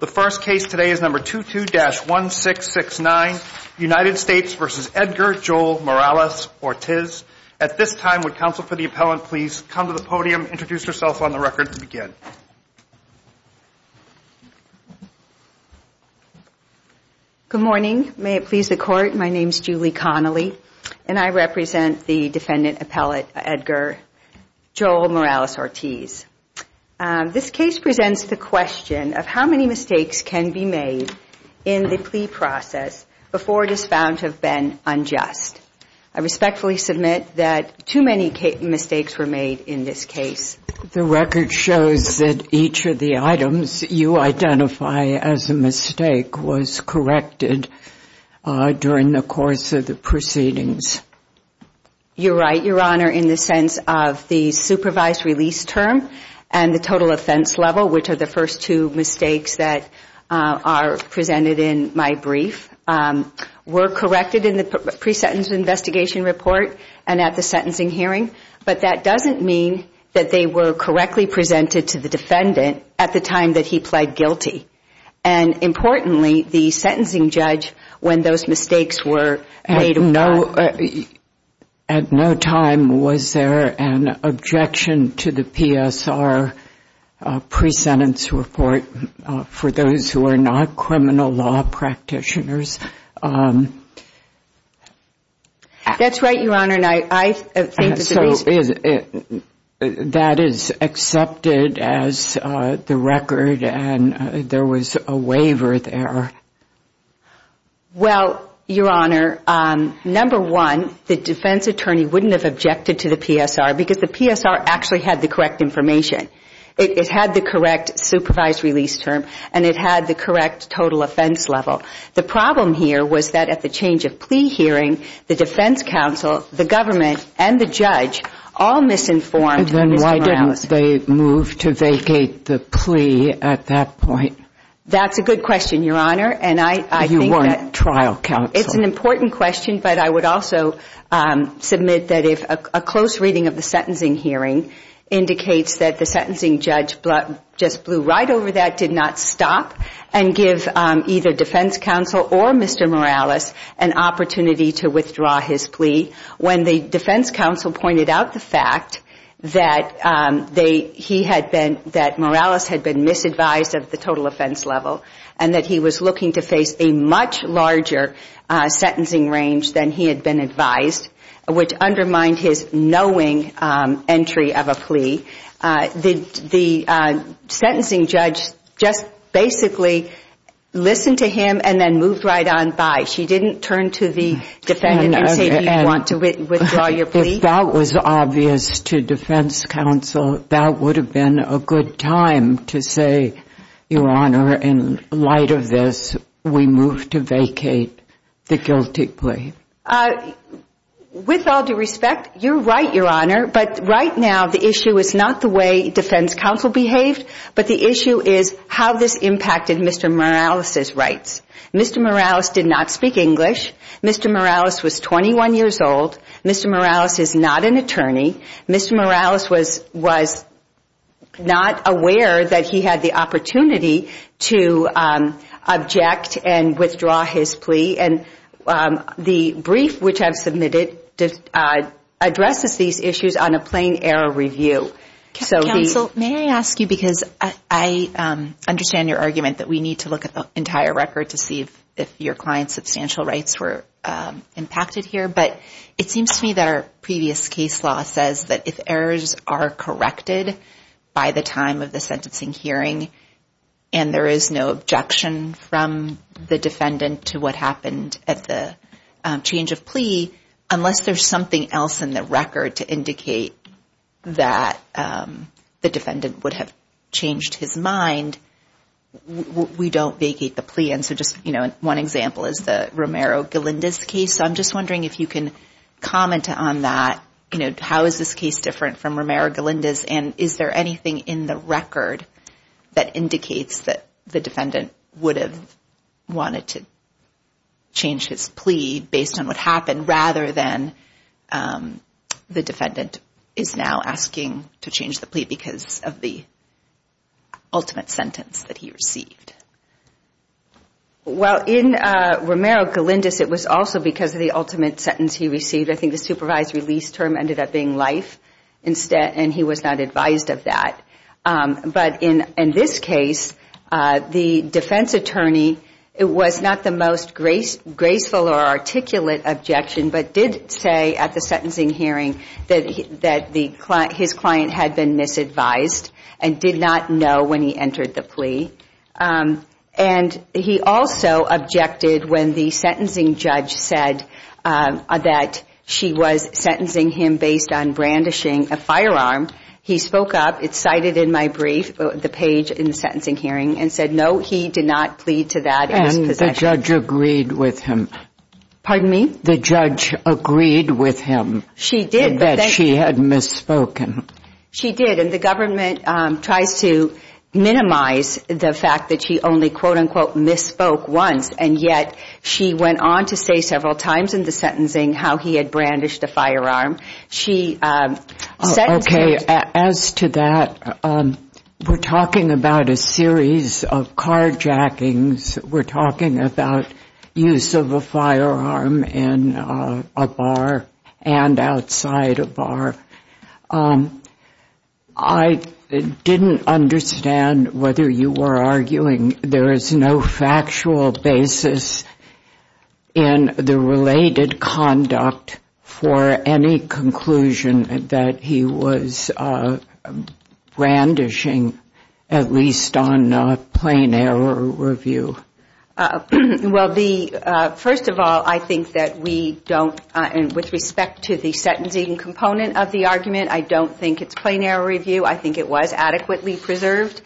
The first case today is number 22-1669, United States v. Edgar Joel Morales-Ortiz. At this time, would counsel for the appellant please come to the podium, introduce yourself on the record and begin. Good morning. May it please the court, my name is Julie Connolly and I represent the defendant appellate Edgar Joel Morales-Ortiz. This case presents the question of how many mistakes can be made in the plea process before it is found to have been unjust. I respectfully submit that too many mistakes were made in this case. The record shows that each of the items you identify as a mistake was corrected during the course of the proceedings. You're right, your honor, in the sense of the supervised release term and the total offense level, which are the first two mistakes that are presented in my brief, were corrected in the pre-sentence investigation report and at the sentencing hearing, but that doesn't mean that they were correctly presented to the defendant at the time that he pled guilty. And importantly, the sentencing judge, when those mistakes were made. At no time was there an objection to the PSR pre-sentence report for those who are not criminal law practitioners. That's right, your honor. So that is accepted as the record and there was a waiver there? Well, your honor, number one, the defense attorney wouldn't have objected to the PSR because the PSR actually had the correct information. It had the correct supervised release term and it had the correct total offense level. The problem here was that at the change of plea hearing, the defense counsel, the government and the judge all misinformed Mr. Morales. Then why didn't they move to vacate the plea at that point? That's a good question, your honor. And I think that... You weren't trial counsel. It's an important question, but I would also submit that if a close reading of the sentencing hearing indicates that the sentencing judge just blew right over that, did not stop and give either defense counsel or Mr. Morales an opportunity to withdraw his plea. When the defense counsel pointed out the fact that Morales had been misadvised at the total offense level and that he was looking to face a much larger sentencing range than he had been advised, which undermined his knowing entry of a plea, the sentencing judge just basically listened to him and then moved right on by. She didn't turn to the defendant and say, do you want to withdraw your plea? If that was obvious to defense counsel, that would have been a good time to say, your honor, in light of this, we move to vacate the guilty plea. With all due respect, you're right, your honor, but right now the issue is not the way defense counsel behaved, but the issue is how this impacted Mr. Morales' rights. Mr. Morales did not speak English. Mr. Morales was 21 years old. Mr. Morales is not an attorney. Mr. Morales was not aware that he had the opportunity to object and withdraw his plea. The brief which I've submitted addresses these issues on a plain error review. Counsel, may I ask you, because I understand your argument that we need to look at the entire record to see if your client's substantial rights were impacted here, but it seems to me that our previous case law says that if errors are corrected by the time of the sentencing hearing and there is no objection from the defendant to what happened at the change of plea, unless there's something else in the record to indicate that the defendant would have changed his mind, we don't vacate the plea. One example is the Romero-Galindez case, so I'm just wondering if you can comment on that. How is this case different from Romero-Galindez and is there anything in the record that indicates that the defendant would have wanted to change his plea based on what happened rather than the defendant is now asking to change the plea because of the ultimate sentence that he received? Well, in Romero-Galindez, it was also because of the ultimate sentence he received. I think the supervised release term ended up being life and he was not advised of that. But in this case, the defense attorney was not the most graceful or articulate objection, but did say at the sentencing hearing that his client had been misadvised and did not know when he entered the plea. And he also objected when the sentencing judge said that she was sentencing him based on brandishing a firearm. He spoke up, it's cited in my brief, the page in the sentencing hearing and said, no, he did not plead to that. And the judge agreed with him. Pardon me? The judge agreed with him. She did. That she had misspoken. She did. And the government tries to minimize the fact that she only, quote unquote, misspoke once. And yet she went on to say several times in the sentencing how he had brandished a firearm. She said. Okay. As to that, we're talking about a series of carjackings. We're talking about use of a firearm in a bar and outside a bar. I didn't understand whether you were arguing there is no factual basis in the related conduct for any conclusion that he was brandishing, at least on a plain error review. Well, the first of all, I think that we don't and with respect to the sentencing component of the argument, I don't think it's plain error review. I think it was adequately preserved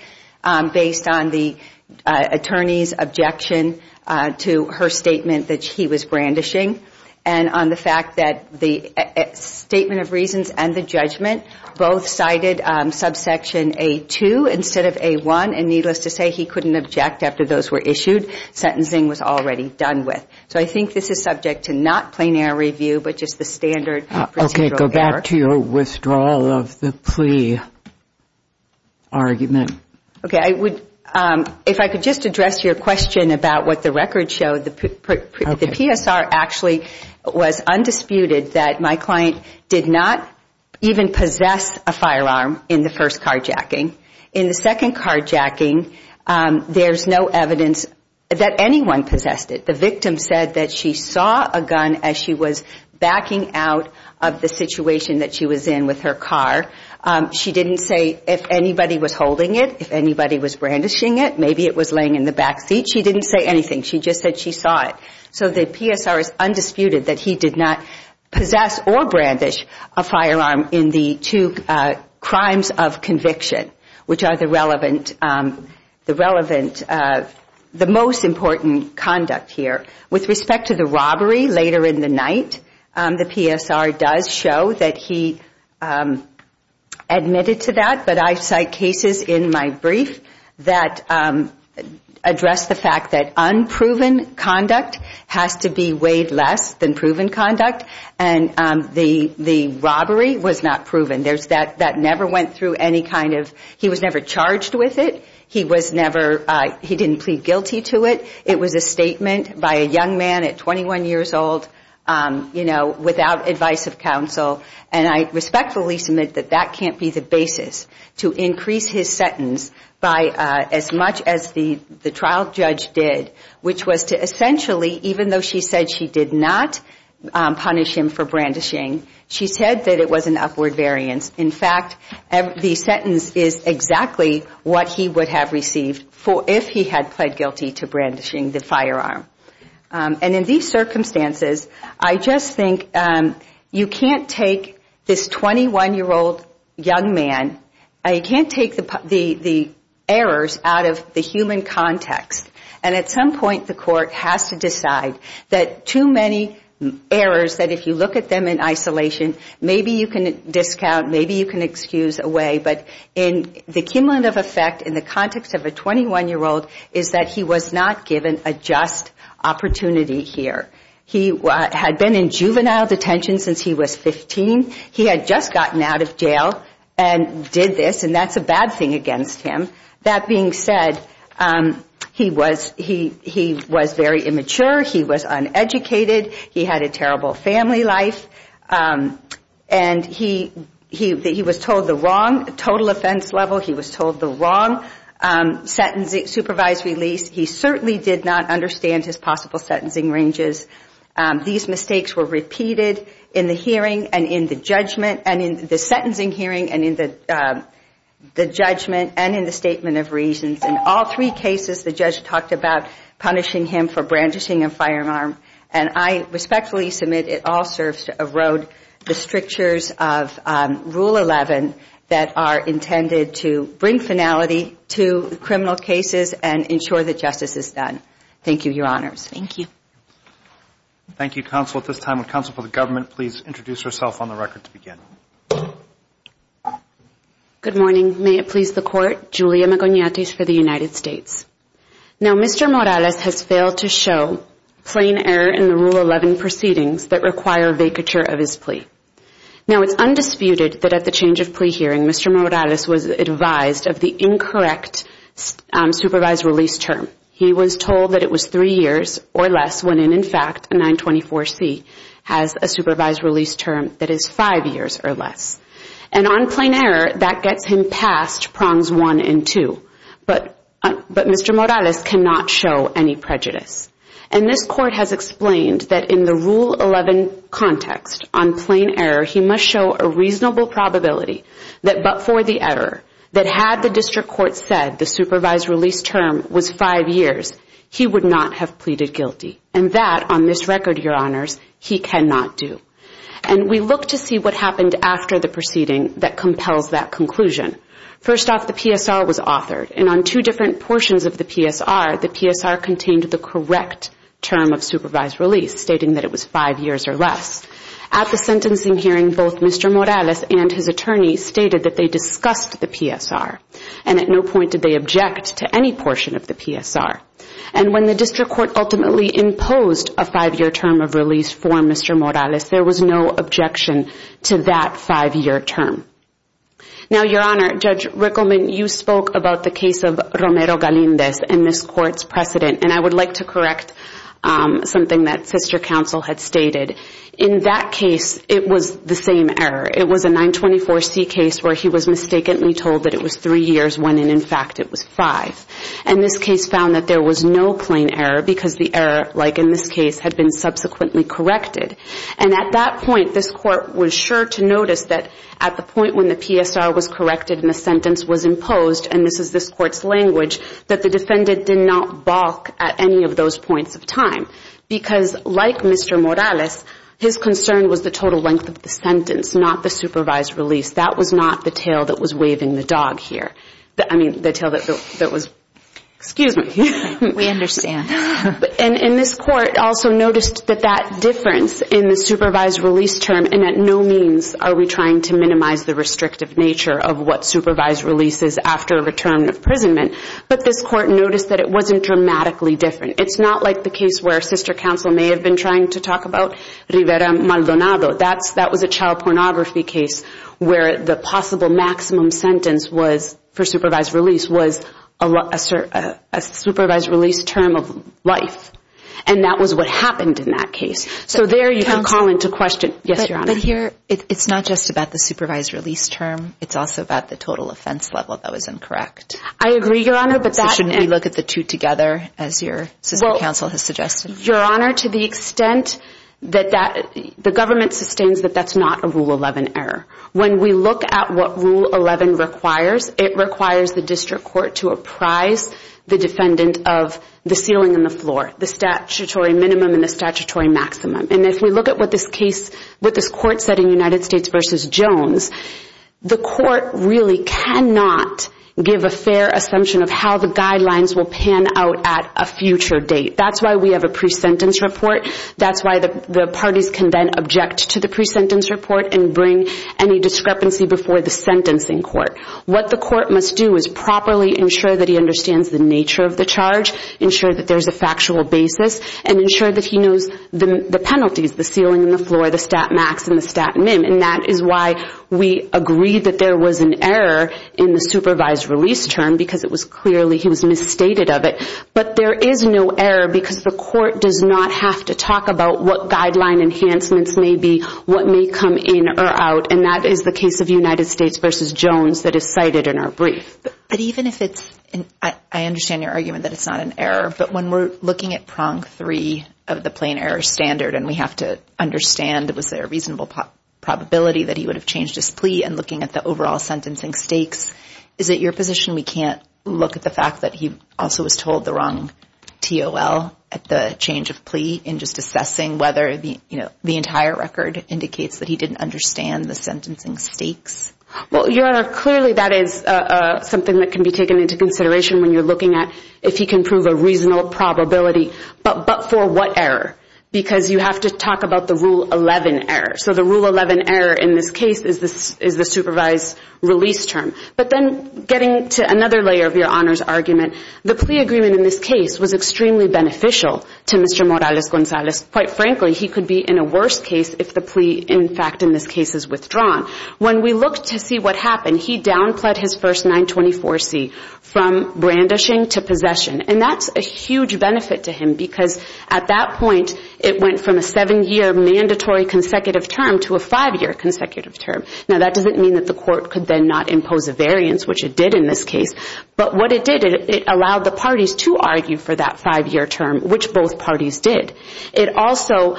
based on the attorney's objection to her statement that he was brandishing. And on the fact that the statement of reasons and the judgment both cited subsection A2 instead of A1. And needless to say, he couldn't object after those were issued. Sentencing was already done with. So I think this is subject to not plain error review, but just the standard procedural error. Okay. Go back to your withdrawal of the plea argument. Okay. If I could just address your question about what the record showed, the PSR actually was undisputed that my client did not even possess a firearm in the first carjacking. In the second carjacking, there's no evidence that anyone possessed it. The victim said that she saw a gun as she was backing out of the situation that she was in with her car. She didn't say if anybody was holding it, if anybody was brandishing it. Maybe it was laying in the back seat. She didn't say anything. She just said she saw it. So the PSR is undisputed that he did not possess or brandish a firearm in the two crimes of conviction, which are the most important conduct here. With respect to the robbery later in the night, the PSR does show that he admitted to that. But I cite cases in my brief that address the fact that unproven conduct has to be weighed less than proven conduct. And the robbery was not proven. That never went through any kind of, he was never charged with it. He was never, he didn't plead guilty to it. It was a statement by a young man at 21 years old, you know, without advice of counsel. And I respectfully submit that that can't be the basis to increase his sentence by as much as the trial judge did, which was to essentially, even though she said she did not punish him for brandishing, she said that it was an upward variance. In fact, the sentence is exactly what he would have received if he had pled guilty to brandishing the firearm. And in these circumstances, I just think you can't take this 21-year-old young man, you can't take the errors out of the human context. And at some point, the court has to decide that too many errors, that if you look at them in isolation, maybe you can discount, maybe you can excuse away, but in the cumulant of effect in the context of a 21-year-old is that he was not given a just opportunity here. He had been in juvenile detention since he was 15. He had just gotten out of jail and did this, and that's a bad thing against him. That being said, he was very immature. He was uneducated. He had a terrible family life. And he was told the wrong total offense level. He was told the wrong supervised release. He certainly did not understand his possible sentencing ranges. These mistakes were repeated in the hearing and in the judgment and in the sentencing hearing and in the judgment and in the statement of reasons. In all three cases, the judge talked about punishing him for brandishing a firearm, and I respectfully submit it all serves to erode the strictures of Rule 11 that are intended to bring finality to criminal cases and ensure that justice is done. Thank you, Your Honors. Thank you. Thank you, Counsel. At this time, would Counsel for the Government please introduce herself on the record to begin? Good morning. May it please the Court, Julia Magonetes for the United States. Now, Mr. Morales has failed to show plain error in the Rule 11 proceedings that require vacature of his plea. Now, it's undisputed that at the change of plea hearing, Mr. Morales was advised of the incorrect supervised release term. He was told that it was three years or less when, in fact, a 924C has a supervised release term that is five years or less. And on plain error, that gets him past prongs one and two. But Mr. Morales cannot show any prejudice. And this Court has explained that in the Rule 11 context on plain error, he must show a reasonable probability that but for the error that had the district court said the supervised release term was five years, he would not have pleaded guilty. And that, on this record, Your Honors, he cannot do. And we look to see what happened after the proceeding that compels that conclusion. First off, the PSR was authored. And on two different portions of the PSR, the PSR contained the correct term of supervised release, stating that it was five years or less. At the sentencing hearing, both Mr. Morales and his attorney stated that they discussed the PSR. And at no point did they object to any portion of the PSR. And when the district court ultimately imposed a five-year term of release for Mr. Morales, there was no objection to that five-year term. Now, Your Honor, Judge Rickleman, you spoke about the case of Romero-Galindez and this Court's precedent. And I would like to correct something that Sister Counsel had stated. In that case, it was the same error. It was a 924C case where he was mistakenly told that it was three years when, in fact, it was five. And this case found that there was no plain error because the error, like in this case, had been subsequently corrected. And at that point, this Court was sure to notice that at the point when the PSR was corrected and the sentence was imposed, and this is this Court's language, that the defendant did not balk at any of those points of time. Because, like Mr. Morales, his concern was the total length of the sentence, not the supervised release. That was not the tail that was waving the dog here. I mean, the tail that was, excuse me. We understand. And this Court also noticed that that difference in the supervised release term, and at no means are we trying to minimize the restrictive nature of what supervised release is after a term of imprisonment, but this Court noticed that it wasn't dramatically different. It's not like the case where Sister Counsel may have been trying to talk about Rivera-Maldonado. That was a child pornography case where the possible maximum sentence was, for supervised release, was a supervised release term of life. And that was what happened in that case. So there you can call into question. Yes, Your Honor. But here, it's not just about the supervised release term. It's also about the total offense level that was incorrect. I agree, Your Honor, but that. So shouldn't we look at the two together, as your Sister Counsel has suggested? Your Honor, to the extent that that, the government sustains that that's not a Rule 11 error. When we look at what Rule 11 requires, it requires the District Court to apprise the defendant of the ceiling and the floor, the statutory minimum and the statutory maximum. And if we look at what this case, what this Court said in United States v. Jones, the Court really cannot give a fair assumption of how the guidelines will pan out at a future date. That's why we have a pre-sentence report. That's why the parties can then object to the pre-sentence report and bring any discrepancy before the sentencing court. What the court must do is properly ensure that he understands the nature of the charge, ensure that there's a factual basis, and ensure that he knows the penalties, the ceiling and the floor, the stat max and the stat min. And that is why we agree that there was an error in the supervised release term, because it was clearly he was misstated of it. But there is no error because the court does not have to talk about what guideline enhancements may be, what may come in or out, and that is the case of United States v. Jones that is cited in our brief. But even if it's, I understand your argument that it's not an error, but when we're looking at prong three of the plain error standard, and we have to understand, was there a reasonable probability that he would have changed his plea, and looking at the overall sentencing stakes, is it your position we can't look at the fact that he also was told the wrong TOL at the change of plea, and just assessing whether the entire record indicates that he didn't understand the sentencing stakes? Well, Your Honor, clearly that is something that can be taken into consideration when you're looking at if he can prove a reasonable probability, but for what error? Because you have to talk about the Rule 11 error. So the Rule 11 error in this case is the supervised release term. But then getting to another layer of Your Honor's argument, the plea agreement in this case was extremely beneficial to Mr. Morales-Gonzalez. Quite frankly, he could be in a worse case if the plea, in fact, in this case is withdrawn. When we looked to see what happened, he downplayed his first 924C from brandishing to possession, and that's a huge benefit to him because at that point, it went from a seven-year mandatory consecutive term to a five-year consecutive term. Now, that doesn't mean that the court could then not impose a variance, which it did in this case. But what it did, it allowed the parties to argue for that five-year term, which both parties did. It also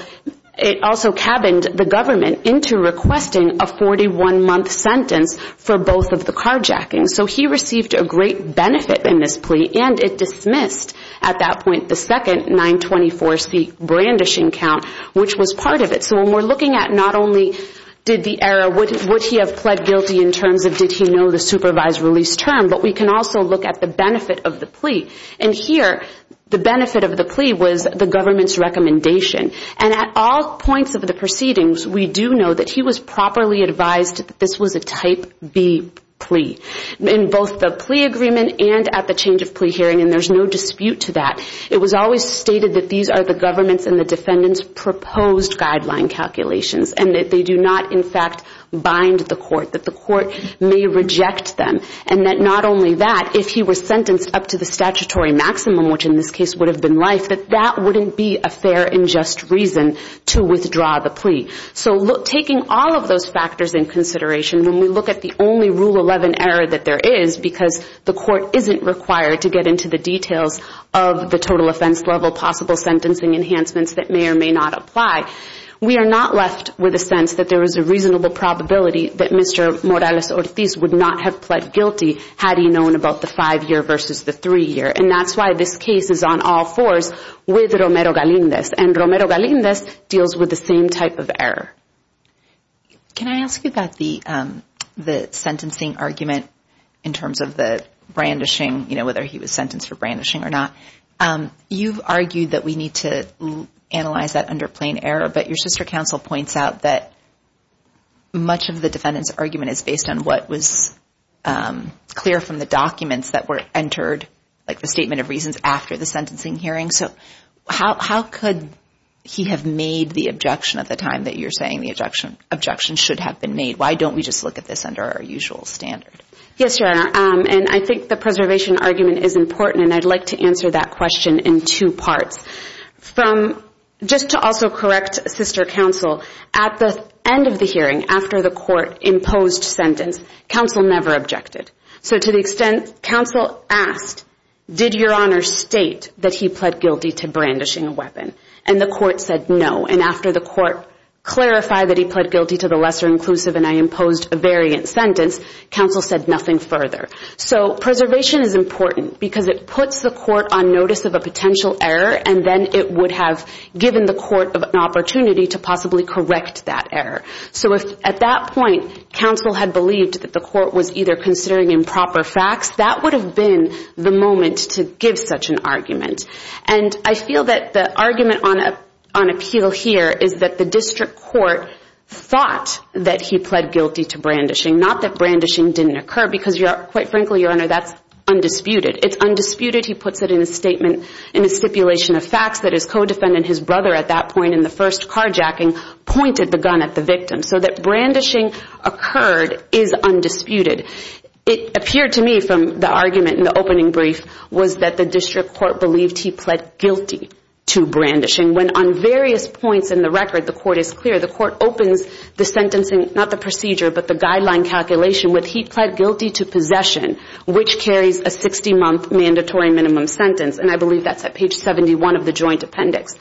cabined the government into requesting a 41-month sentence for both of the carjackings. So he received a great benefit in this plea, and it dismissed, at that point, the second 924C brandishing count, which was part of it. So when we're looking at not only did the error, would he have pled guilty in terms of did he know the supervised release term, but we can also look at the benefit of the plea. And here, the benefit of the plea was the government's recommendation. And at all points of the proceedings, we do know that he was properly advised that this was a Type B plea in both the plea agreement and at the change of plea hearing, and there's no dispute to that. It was always stated that these are the government's and the defendant's proposed guideline calculations, and that they do not, in fact, bind the court, that the court may reject them. And that not only that, if he were sentenced up to the statutory maximum, which in this case would have been life, that that wouldn't be a fair and just reason to withdraw the plea. So taking all of those factors in consideration, when we look at the only Rule 11 error that there is, because the court isn't required to get into the details of the total offense level possible sentencing enhancements that may or may not apply, we are not left with a sense that there is a reasonable probability that Mr. Morales-Ortiz would not have pled guilty had he known about the five-year versus the three-year. And that's why this case is on all fours with Romero-Galindez, and Romero-Galindez deals with the same type of error. Can I ask you about the sentencing argument in terms of the brandishing, you know, whether he was sentenced for brandishing or not? You've argued that we need to analyze that under plain error, but your sister counsel points out that much of the defendant's argument is based on what was clear from the documents that were entered, like the statement of reasons after the sentencing hearing. So how could he have made the objection at the time that you're saying the objection should have been made? Why don't we just look at this under our usual standard? Yes, Your Honor, and I think the preservation argument is important, and I'd like to answer that question in two parts. From, just to also correct sister counsel, at the end of the hearing, after the court imposed sentence, counsel never objected. So to the extent counsel asked, did Your Honor state that he pled guilty to brandishing a weapon? And the court said no, and after the court clarified that he pled guilty to the lesser inclusive and I imposed a variant sentence, counsel said nothing further. So preservation is important because it puts the court on notice of a potential error, and then it would have given the court an opportunity to possibly correct that error. So if at that point, counsel had believed that the court was either considering improper facts, that would have been the moment to give such an argument. And I feel that the argument on appeal here is that the district court thought that he pled guilty to brandishing, not that brandishing didn't occur, because quite frankly, Your Honor, that's undisputed. It's undisputed, he puts it in a statement, in a stipulation of facts, that his co-defendant, his brother at that point in the first carjacking, pointed the gun at the victim. So that brandishing occurred is undisputed. It appeared to me from the argument in the opening brief was that the district court believed he pled guilty to brandishing, when on various points in the record, the court is clear. The court opens the sentencing, not the procedure, but the guideline calculation with he pled guilty to possession, which carries a 60-month mandatory minimum sentence. And I believe that's at page 71 of the joint appendix.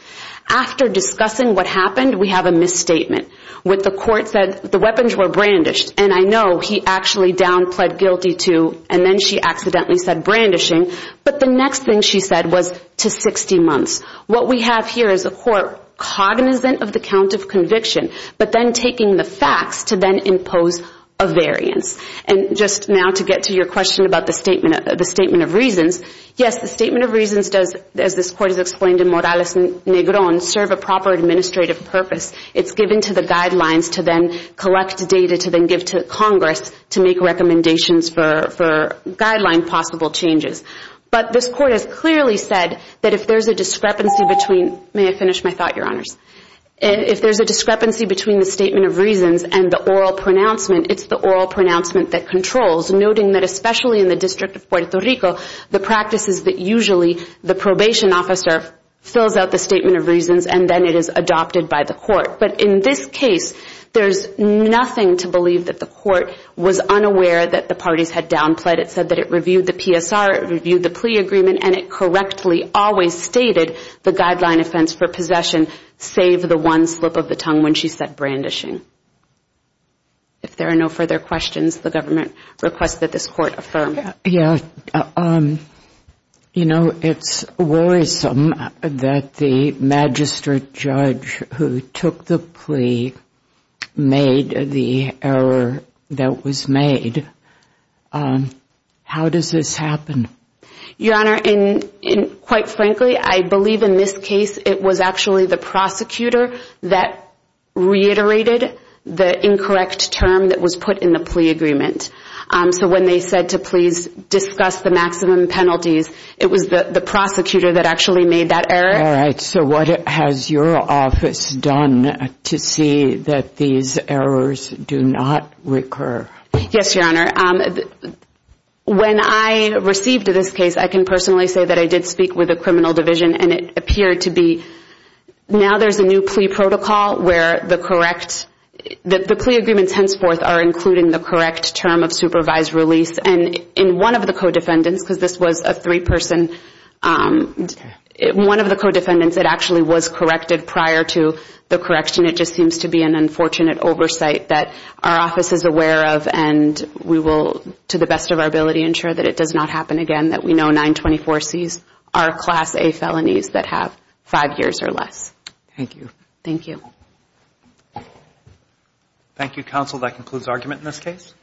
After discussing what happened, we have a misstatement, with the court said the weapons were brandished, and I know he actually down pled guilty to, and then she accidentally said brandishing, but the next thing she said was to 60 months. What we have here is a court cognizant of the count of conviction, but then taking the facts to then impose a variance. And just now to get to your question about the statement of reasons, yes, the statement of reasons does, as this court has explained in Morales Negron, serve a proper administrative purpose. It's given to the guidelines to then collect data to then give to Congress to make recommendations for guideline possible changes. But this court has clearly said that if there's a discrepancy between, may I finish my thought, your honors? If there's a discrepancy between the statement of reasons and the oral pronouncement, it's the oral pronouncement that controls, noting that especially in the District of Puerto Rico, the practice is that usually the probation officer fills out the statement of reasons and then it is adopted by the court. But in this case, there's nothing to believe that the court was unaware that the parties had down pled. It said that it reviewed the PSR, it reviewed the plea agreement, and it correctly always stated the guideline offense for possession, save the one slip of the tongue when she said brandishing. If there are no further questions, the government requests that this court affirm. Yeah. You know, it's worrisome that the magistrate judge who took the plea made the error that was made. How does this happen? Your honor, and quite frankly, I believe in this case, it was actually the prosecutor that reiterated the incorrect term that was put in the plea agreement. So when they said to please discuss the maximum penalties, it was the prosecutor that actually made that error. All right. So what has your office done to see that these errors do not recur? Yes, your honor. When I received this case, I can personally say that I did speak with the criminal division and it appeared to be. Now there's a new plea protocol where the correct, the plea agreements henceforth are including the correct term of supervised release. And in one of the co-defendants, because this was a three person, one of the co-defendants that actually was corrected prior to the correction. It just seems to be an unfortunate oversight that our office is aware of. And we will, to the best of our ability, ensure that it does not happen again. That we know 924Cs are class A felonies that have five years or less. Thank you. Thank you. Thank you, counsel. That concludes argument in this case.